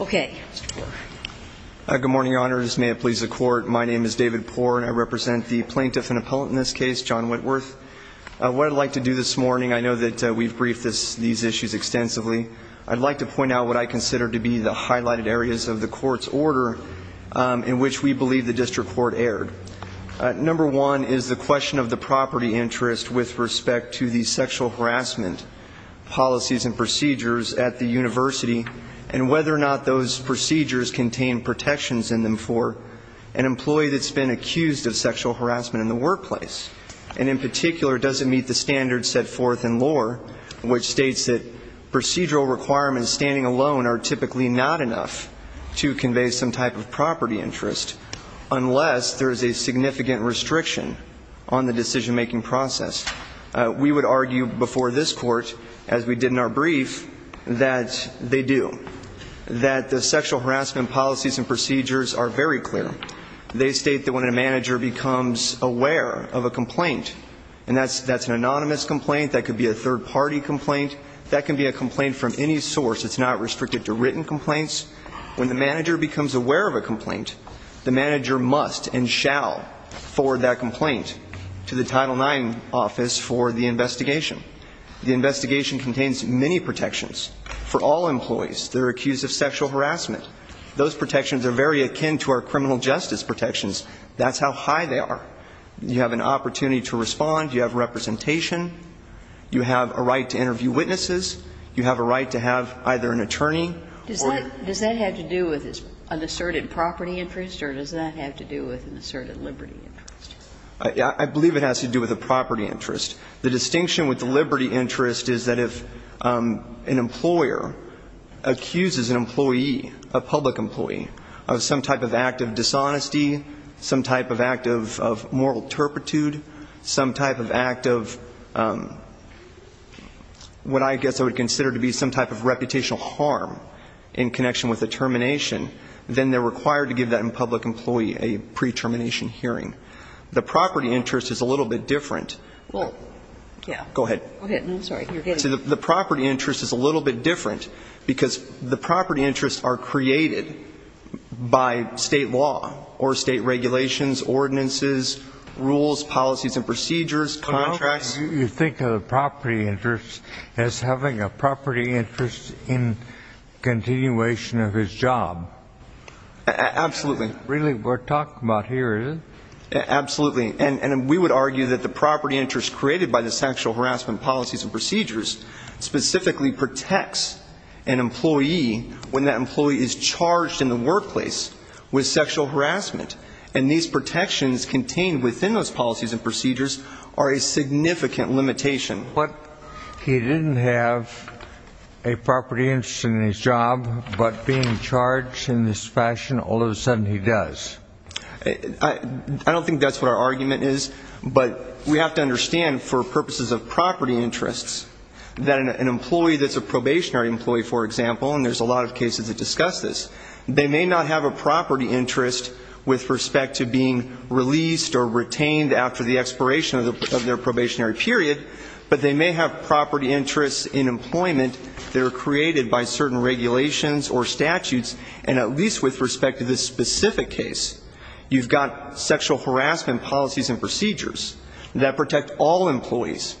Okay. Good morning, Your Honors. May it please the Court. My name is David Poore and I represent the Plaintiff and Appellant in this case, John Whitworth. What I'd like to do this morning, I know that we've briefed these issues extensively. I'd like to point out what I consider to be the highlighted areas of the Court's order in which we believe the District Court erred. Number one is the question of the property interest with respect to the sexual harassment policies and procedures at the University, and whether or not those procedures contain protections in them for an employee that's been accused of sexual harassment in the workplace. And in particular, does it meet the standards set forth in lore, which states that procedural requirements standing alone are typically not enough to convey some type of property interest, unless there is a significant restriction on the decision-making process. We would argue before this Court, as we did in our brief, that they do. That the sexual harassment policies and procedures are very clear. They state that when a manager becomes aware of a complaint, and that's an anonymous complaint, that could be a third-party complaint, that can be a complaint from any source. It's not restricted to written complaints. When the manager becomes aware of a complaint, the manager must and shall forward that complaint to the Title IX office for the investigation. The investigation contains many protections for all employees that are accused of sexual harassment. Those protections are very akin to criminal justice protections. That's how high they are. You have an opportunity to respond. You have representation. You have a right to interview witnesses. You have a right to have either an attorney or an attorney. Does that have to do with an asserted property interest, or does that have to do with an asserted liberty interest? I believe it has to do with a property interest. The distinction with the liberty interest is that if an employer accuses an employee, a public employee, of some type of act of dishonesty, some type of act of moral turpitude, some type of act of what I guess I would consider to be some type of reputational harm in connection with a termination, then they're required to give that public employee a pre-termination hearing. The property interest is a little bit different. Go ahead. I'm sorry. You're getting it. The property interest is a little bit different because the property interests are created by state law or state regulations, ordinances, rules, policies and procedures, contracts. You think of the property interest as having a property interest in continuation of his job. Absolutely. Really, we're talking about here, isn't it? Absolutely. And we would argue that the property interest created by the sexual harassment policies and procedures specifically protects an employee when that employee is charged in the workplace with sexual harassment. And these protections contained within those policies and procedures are a significant limitation. But he didn't have a property interest in his job, but being charged in this fashion, all of a sudden he does. I don't think that's what our argument is, but we have to understand for purposes of property interests that an employee that's a probationary employee, for example, and there's a lot of cases that discuss this, they may not have a property interest with respect to being released or retained after the expiration of their probationary period, but they may have property interests in employment that are created by certain regulations or statutes, and at least with respect to this specific case, you've got sexual harassment policies and procedures that protect all employees.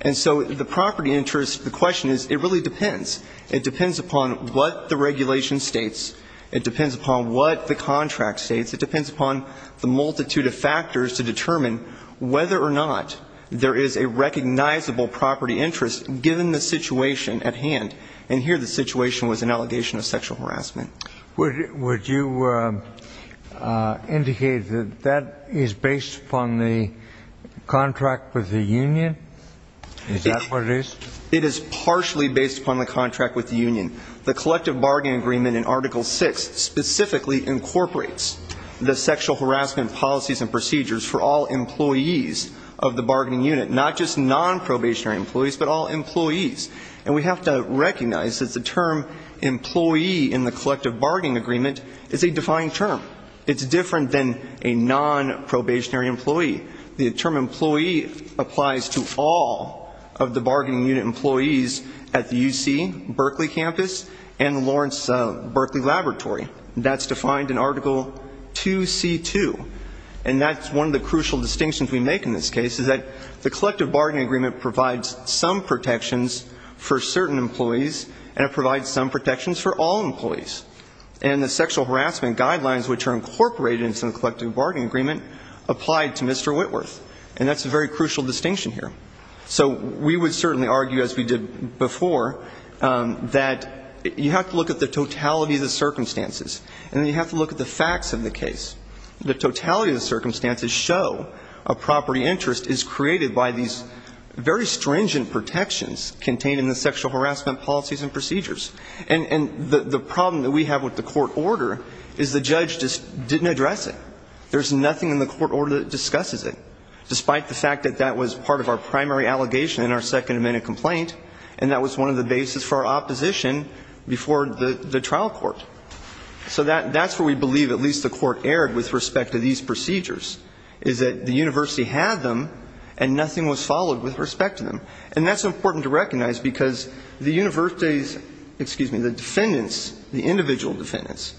And so the property interest, the question is, it really depends. It depends upon what the regulation states. It depends upon what the contract states. It depends upon the multitude of factors to determine whether or not there is a recognizable property interest given the situation at hand. And here the situation was an allegation of sexual harassment. Would you indicate that that is based upon the contract with the union? Is that what it is? It is partially based upon the contract with the union. The collective bargaining agreement in Article VI specifically incorporates the sexual harassment policies and procedures for all employees of the bargaining unit, not just non-probationary employees, but all employees. The collective bargaining agreement is a defined term. It's different than a non-probationary employee. The term employee applies to all of the bargaining unit employees at the UC Berkeley campus and the Lawrence Berkeley laboratory. That's defined in Article II.C.2. And that's one of the crucial distinctions we make in this case, is that the collective bargaining agreement provides some protections for certain employees, and it provides some protections for non-probationary employees. And the sexual harassment guidelines, which are incorporated in the collective bargaining agreement, apply to Mr. Whitworth. And that's a very crucial distinction here. So we would certainly argue, as we did before, that you have to look at the totality of the circumstances, and you have to look at the facts of the case. The totality of the circumstances show a property interest is created by these very stringent protections contained in the sexual harassment policies and procedures. And the problem that we have with the court order is the judge just didn't address it. There's nothing in the court order that discusses it, despite the fact that that was part of our primary allegation in our Second Amendment complaint, and that was one of the bases for our opposition before the trial court. So that's where we believe at least the court erred with respect to these procedures, is that the university had them, and nothing was followed with respect to them. And that's important to recognize because the university's, excuse me, the defendants, the individual defendants,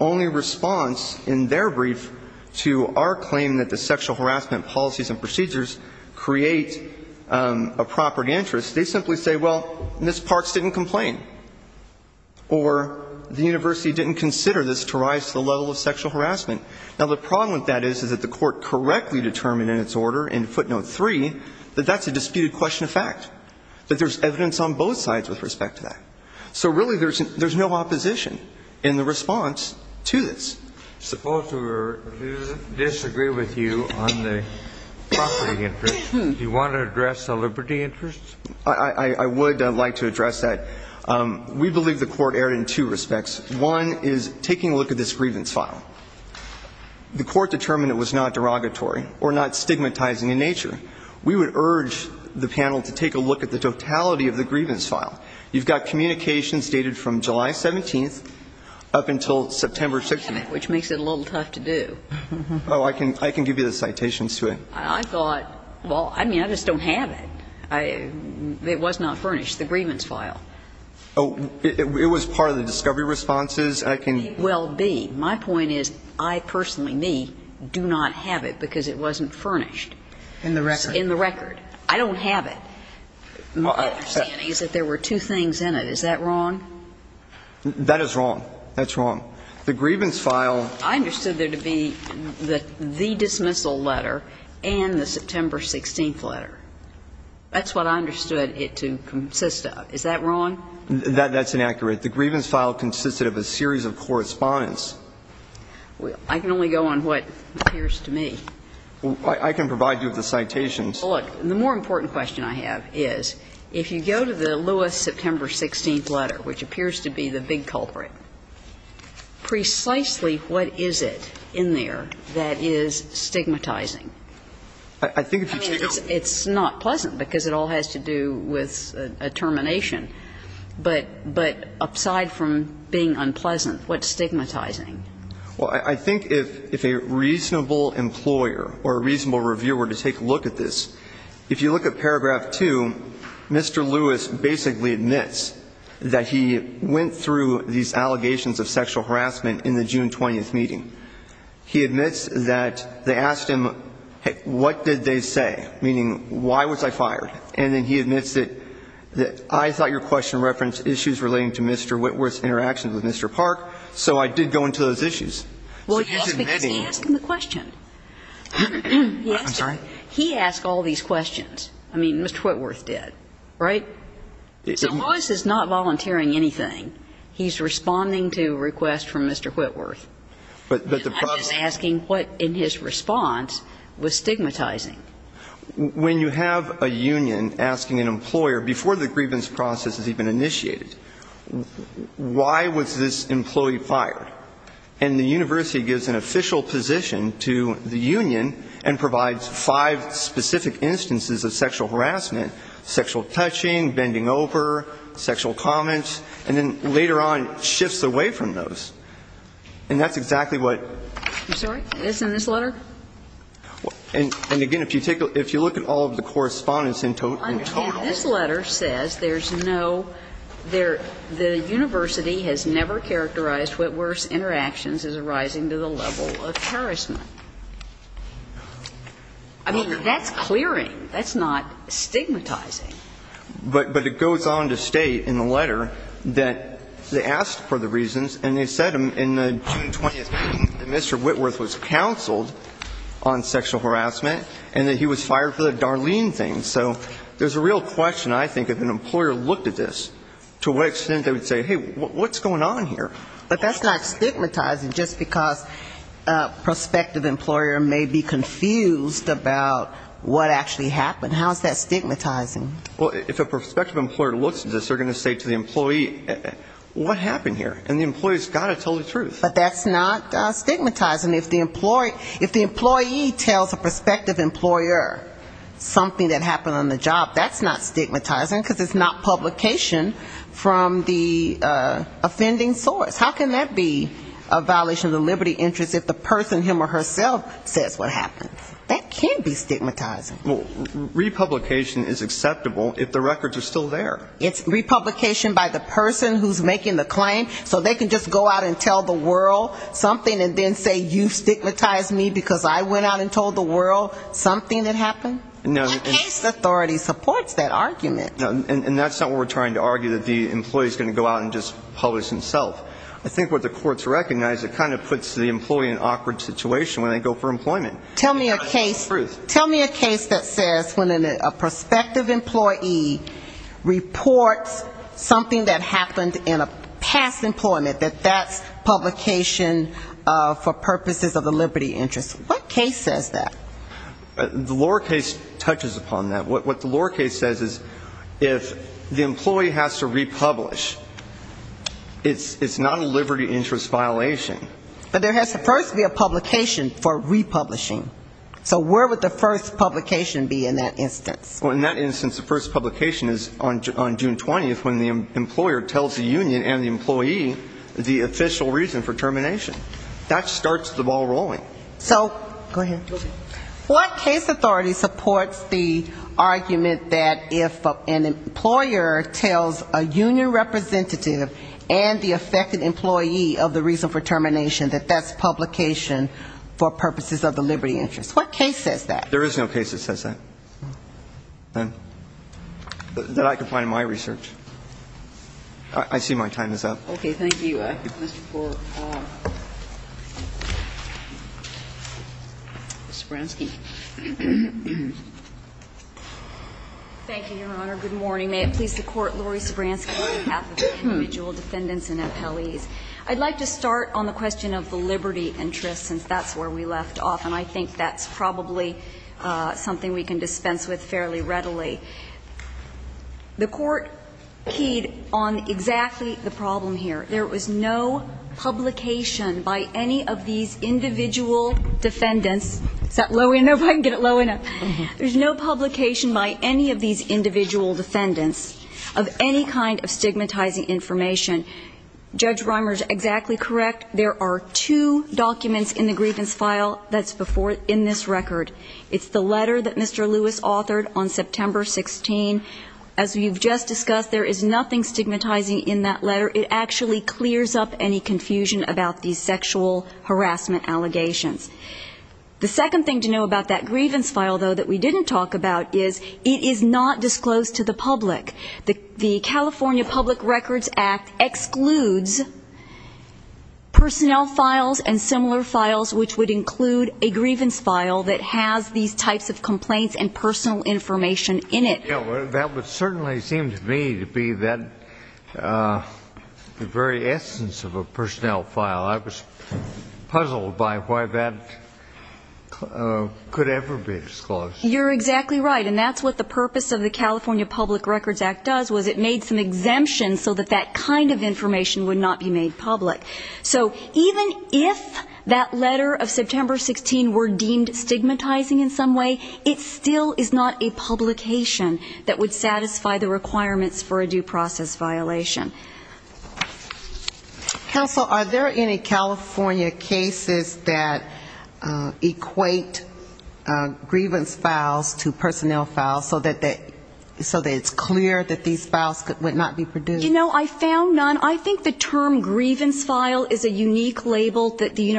only response in their brief to our claim that the sexual harassment policies and procedures create a property interest, they simply say, well, Ms. Parks didn't complain, or the university didn't consider this to rise to the level of sexual harassment. Now, the problem with that is, is that the court correctly determined in its order in footnote three that that's a disputed question of fact, that there's evidence on both sides with respect to that. So really there's no opposition in the response to this. Suppose we disagree with you on the property interest. Do you want to address the liberty interest? I would like to address that. We believe the court erred in two respects. One is taking a look at this grievance file. The court determined it was not derogatory or not stigmatizing in nature. We would urge the panel to take a look at the totality of the grievance file. You've got communications dated from July 17th up until September 16th. Which makes it a little tough to do. Oh, I can give you the citations to it. I thought, well, I mean, I just don't have it. It was not furnished, the grievance file. Oh, it was part of the discovery responses. I can – It will be. My point is, I personally, me, do not have it because it wasn't furnished. In the record. In the record. I don't have it. My understanding is that there were two things in it. Is that wrong? That is wrong. That's wrong. The grievance file – I understood there to be the dismissal letter and the September 16th letter. That's what I understood it to consist of. Is that wrong? That's inaccurate. The grievance file consisted of a series of correspondence. I can only go on what appears to me. I can provide you with the citations. Look, the more important question I have is, if you go to the Lewis September 16th letter, which appears to be the big culprit, precisely what is it in there that is stigmatizing? I think if you take a look at it – But – but, aside from being unpleasant, what's stigmatizing? Well, I think if a reasonable employer or a reasonable reviewer were to take a look at this, if you look at paragraph 2, Mr. Lewis basically admits that he went through these allegations of sexual harassment in the June 20th meeting. He admits that they asked him, what did they say? Meaning, why was I fired? And then he admits that I thought your question referenced issues relating to Mr. Whitworth's interaction with Mr. Park, so I did go into those issues. Well, that's because he asked him the question. I'm sorry? He asked all these questions. I mean, Mr. Whitworth did, right? So Lewis is not volunteering anything. He's responding to a request from Mr. Whitworth. But the problem – I'm just asking what in his response was stigmatizing. When you have a union asking an employer, before the grievance process is even initiated, why was this employee fired? And the university gives an official position to the union and provides five specific instances of sexual harassment – sexual touching, bending over, sexual comments – and then later on shifts away from those. And that's exactly what – I'm sorry? It's in this letter? And again, if you take a – if you look at all of the correspondence in total – In total. And this letter says there's no – there – the university has never characterized Whitworth's interactions as arising to the level of harassment. I mean, that's clearing. That's not stigmatizing. But it goes on to state in the letter that they asked for the reasons, and they said in the June 20th meeting that Mr. Whitworth was counseled on sexual harassment and that he was fired for the Darlene thing. So there's a real question, I think, if an employer looked at this, to what extent they would say, hey, what's going on here? But that's not stigmatizing just because a prospective employer may be confused about what actually happened. How is that stigmatizing? Well, if a prospective employer looks at this, they're going to say to the employee, what happened here? And the employee's got to tell the truth. But that's not stigmatizing. If the employee tells a prospective employer something that happened on the job, that's not stigmatizing, because it's not publication from the offending source. How can that be a violation of the liberty of interest if the person, him or herself, says what happened? That can be stigmatizing. Well, republication is acceptable if the records are still there. It's republication by the person who's making the claim, so they can just go out and tell the world something and then say, you stigmatized me because I went out and told the world something that happened? No. The case authority supports that argument. And that's not what we're trying to argue, that the employee's going to go out and just publish himself. I think what the courts recognize, it kind of puts the employee in an awkward situation when they go for employment. Tell me a case that says when a prospective employee reports something that happened in a past employment, that that's publication for purposes of the liberty of interest. What case says that? The lower case touches upon that. What the lower case says is if the employee has to republish, it's not a liberty of interest violation. But there has to first be a publication for republishing. So where would the first publication be in that instance? Well, in that instance, the first publication is on June 20th when the employer tells the union and the employee the official reason for termination. That starts the ball rolling. So what case authority supports the argument that if an employer tells a union representative and the affected employee of the reason for termination, that that's publication for purposes of the liberty of interest? What case says that? There is no case that says that. That I can find in my research. I see my time is up. Okay. Thank you. Mr. Foreman. Thank you, Your Honor. Good morning. May it please the Court, Laurie Sobransky, on behalf of the individual defendants and appellees. I'd like to start on the question of the liberty of interest, since that's where we left off, and I think that's probably something we can dispense with fairly readily. The Court keyed on exactly that. There is no publication by any of these individual defendants of any kind of stigmatizing information. Judge Reimer is exactly correct. There are two documents in the grievance file that's in this record. It's the letter that Mr. Lewis authored on September 16. As you've just discussed, there is nothing stigmatizing in that letter. It actually clears up any confusion about these sexual harassment allegations. The second thing to know about that grievance file, though, that we didn't talk about is it is not disclosed to the public. The California Public Records Act excludes personnel files and similar files which would include a grievance file that has these types of complaints and personal information in it. That would certainly seem to me to be that very essence of a personnel file. I was puzzled by why that could ever be disclosed. You're exactly right. And that's what the purpose of the California Public Records Act does, was it made some exemptions so that that kind of information would not be made public. So even if that letter of September 16 were deemed stigmatizing in some way, it still is not a publication that would satisfy the requirements for a due process violation. Counsel, are there any California cases that equate grievance files to personnel files so that it's clear that these files would not be produced? You know, I found none. I think the term grievance file is a unique label that the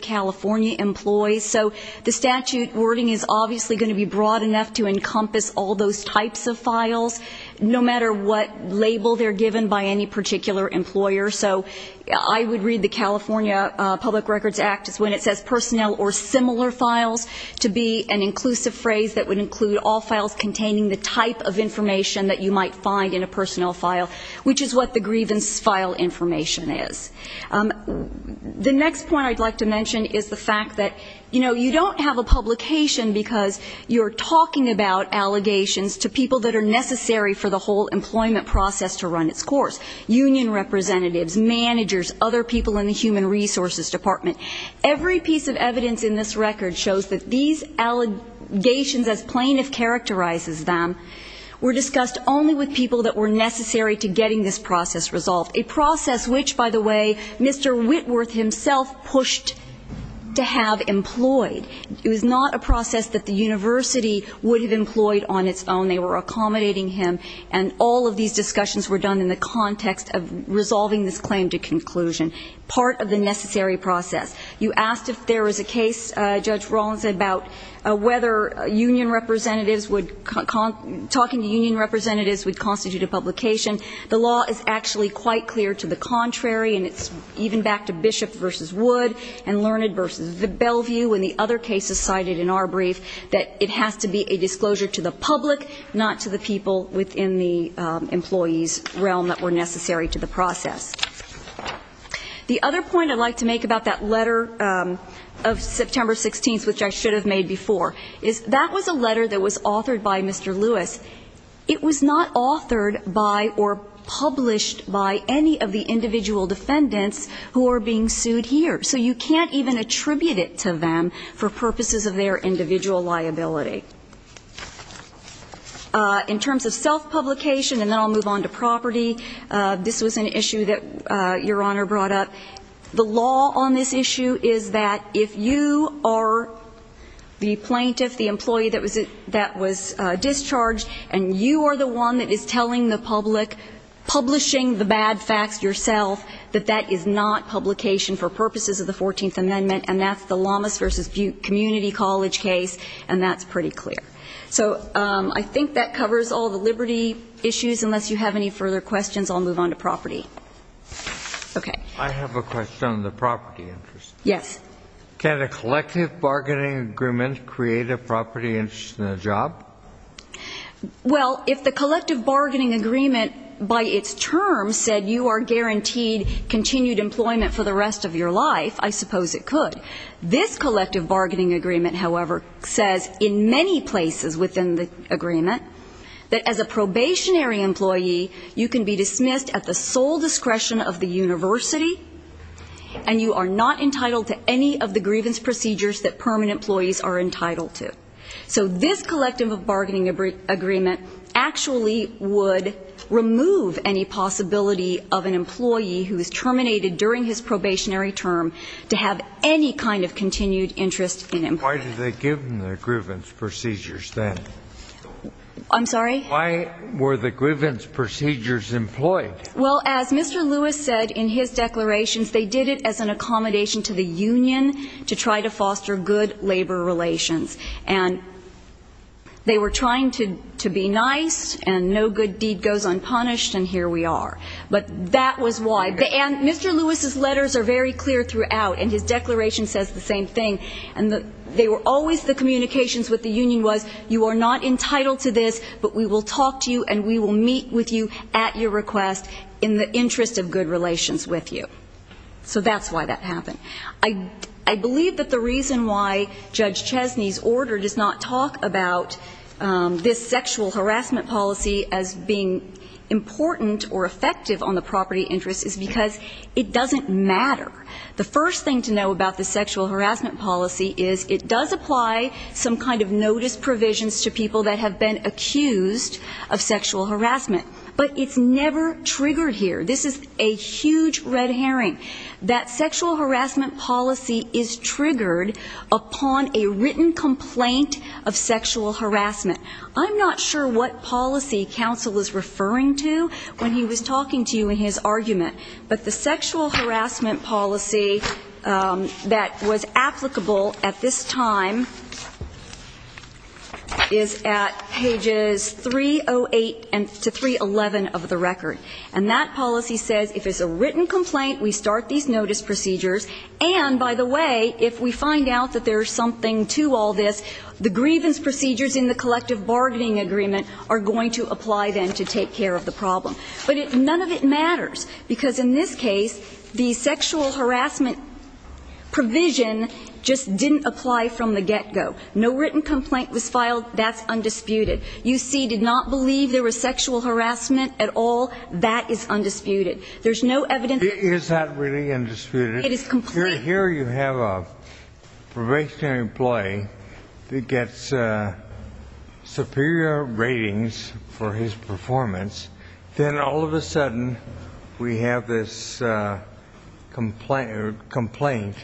California Public Records Act uses. It's obviously going to be broad enough to encompass all those types of files, no matter what label they're given by any particular employer. So I would read the California Public Records Act as when it says personnel or similar files to be an inclusive phrase that would include all files containing the type of information that you might find in a personnel file, which is what the grievance file information is. The next point I'd like to mention is the fact that, you know, you don't have a publication because you're talking about allegations to people that are necessary for the whole employment process to run its course, union representatives, managers, other people in the human resources department. Every piece of evidence in this record shows that these allegations as plaintiff characterizes them were discussed only with people that were necessary to getting this process resolved, a process which, by the way, Mr. Whitworth himself pushed to have employed. It was not a process that the university would have employed on its own. They were accommodating him, and all of these discussions were done in the context of resolving this claim to conclusion, part of the necessary process. You asked if there was a case, Judge Kagan, that would constitute a publication. The law is actually quite clear to the contrary, and it's even back to Bishop v. Wood and Learned v. Bellevue and the other cases cited in our brief that it has to be a disclosure to the public, not to the people within the employee's realm that were necessary to the process. The other point I'd like to make about that letter of September 16th, which I should have made before, is that was a letter that was authored by Mr. Lewis. It was not authored by or published by any of the individual defendants who are being sued here. So you can't even attribute it to them for purposes of their individual liability. In terms of self-publication, and then I'll move on to property, this was an issue that Your Honor brought up. The law on this issue is that if you are the plaintiff, the employee that was discharged, and you are the one that is telling the public, publishing the bad facts yourself, that that is not publication for purposes of the Fourteenth Amendment, and that's the Lamas v. Butte Community College case, and that's pretty clear. So I think that covers all the liberty issues. Unless you have any further questions, I'll move on to property. Okay. I have a question on the property interest. Yes. Can a collective bargaining agreement create a property interest in a job? Well, if the collective bargaining agreement by its term said you are guaranteed continued employment for the rest of your life, I suppose it could. This collective bargaining agreement, however, says in many places within the agreement that as a probationary employee, you can be dismissed at the sole discretion of the university, and you are not entitled to any of the grievance procedures that permanent employees are entitled to. So this collective bargaining agreement actually would remove any possibility of an employee who is terminated during his probationary term to have any kind of continued interest in employment. Why did they give him the grievance procedures then? I'm sorry? Why were the grievance procedures employed? Well, as Mr. Lewis said in his declarations, they did it as an accommodation to the union to try to foster good labor relations. And they were trying to be nice, and no good deed goes unpunished, and here we are. But that was why. And Mr. Lewis's letters are very clear throughout, and his declaration says the same thing. And they were always the communications with the union was you are not entitled to this, but we will talk to you and we will meet with you at your request in the interest of good relations with you. So that's why that happened. I believe that the reason why Judge Chesney's order does not talk about this sexual harassment policy as being important or effective on the property interest is because it doesn't matter. The first thing to know about the sexual harassment policy is it does apply some kind of notice provisions to people that have been accused of sexual harassment in the past year. This is a huge red herring. That sexual harassment policy is triggered upon a written complaint of sexual harassment. I'm not sure what policy counsel is referring to when he was talking to you in his argument, but the sexual harassment policy that was applicable at this time is at pages 308 to 311 of the record. And that policy says if it's a written complaint, we start these notice procedures. And, by the way, if we find out that there is something to all this, the grievance procedures in the collective bargaining agreement are going to apply then to take care of the problem. But none of it matters, because in this case the sexual harassment provision just didn't apply from the get-go. No written complaint was filed. That's undisputed. UC did not believe there was sexual harassment at all. That is undisputed. There's no evidence. Is that really undisputed? It is complete. Here you have a probationary employee that gets superior ratings for his performance. Then all of a sudden we have this complaint,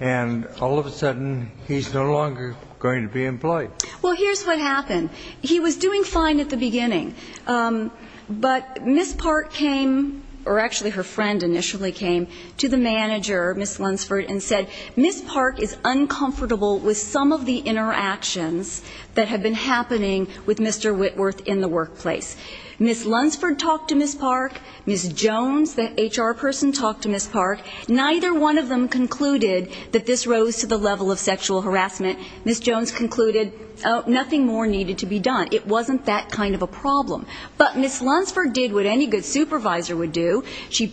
and all of a sudden he's no longer going to be employed. Well, here's what happened. He was doing fine at the beginning, but Ms. Park came or actually her friend initially came to the manager, Ms. Lunsford, and said, Ms. Park is uncomfortable with some of the interactions that have been happening with Mr. Whitworth in the workplace. Ms. Lunsford talked to Ms. Park. Ms. Jones, the HR person, talked to Ms. Park. Neither one of them concluded that this rose to the level of sexual harassment. Ms. Jones concluded, oh, nothing more needed to be done. It wasn't that kind of a problem. But Ms. Lunsford did what any good supervisor would do. She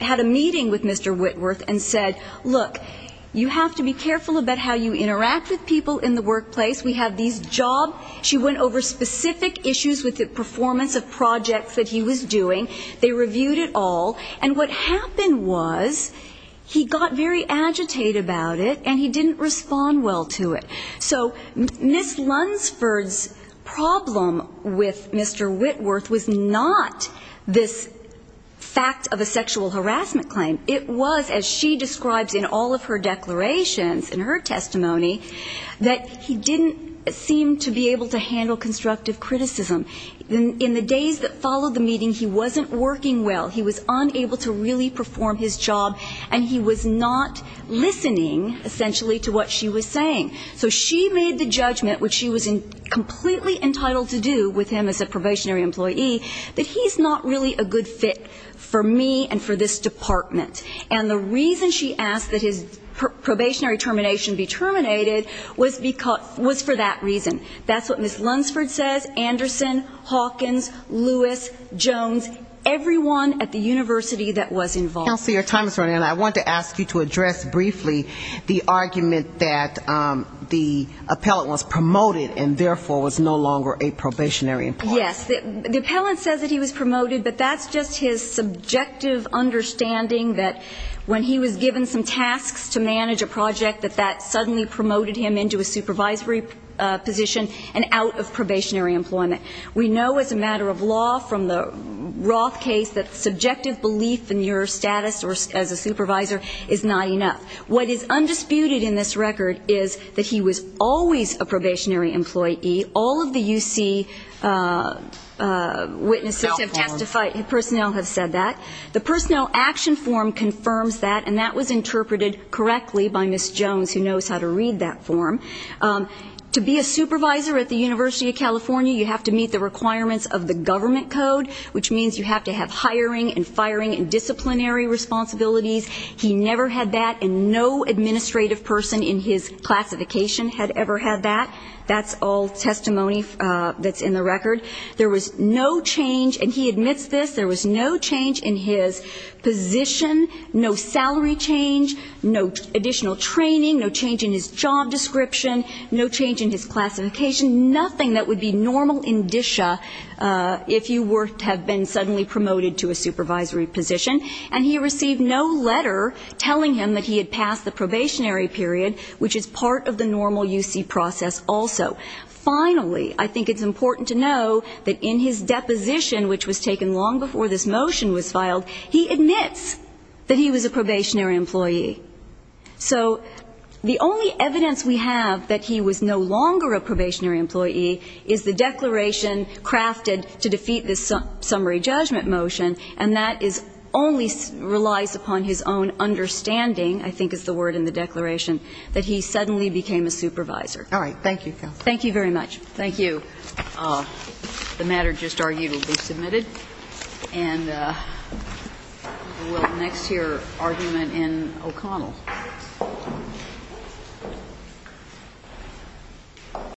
had a meeting with Mr. Whitworth and said, look, you have to be careful about how you interact with people in the workplace. We have these jobs. She went over specific issues with the performance of projects that he was doing. They reviewed it all. And what happened was he got very agitated about it and he didn't respond well to it. So Ms. Lunsford's problem with Mr. Whitworth was not this fact of a sexual harassment claim. It was, as she describes in all of her declarations, in her testimony, that he didn't seem to be able to handle constructive criticism. In the days that followed the meeting, he wasn't working well. He was unable to really perform his job. And he was not listening, essentially, to what she was saying. So she made the judgment, which she was completely entitled to do with him as a probationary employee, that he's not really a good fit for me and for this department. And the reason she asked that his probationary termination be terminated was for that reason. That's what Ms. Lunsford says, Anderson, Hawkins, Lewis, Jones, everyone at the university that was involved. Ms. Lunsford. Counselor, your time is running out. I want to ask you to address briefly the argument that the appellant was promoted and therefore was no longer a probationary employee. Yes. The appellant says that he was promoted, but that's just his subjective belief in your status as a supervisor is not enough. What is undisputed in this record is that he was always a probationary employee. All of the UC witnesses have testified, personnel have said that. The personnel action form confirms that, and that was interpreted correctly by Ms. Jones, who knows how to read that for you. Ms. Lunsford, you have to meet the requirements of the government code, which means you have to have hiring and firing and disciplinary responsibilities. He never had that, and no administrative person in his classification had ever had that. That's all testimony that's in the record. There was no change, and he admits this, there was no change in his position, no salary change, no additional training, no change in his job description, no change in his classification, nothing that would be normal indicia if you were to have been suddenly promoted to a supervisory position. And he received no letter telling him that he had passed the probationary period, which is part of the normal UC process also. Finally, I think it's important to know that in his deposition, which was taken long before this motion was filed, he admits that he was a probationary employee. So the only evidence we have that he was no longer a probationary employee is the declaration crafted to defeat this summary judgment motion, and that is only relies upon his own understanding, I think is the word in the Thank you very much. Thank you. The matter just argued will be submitted. And we'll next hear argument in O'Connell. Thank you.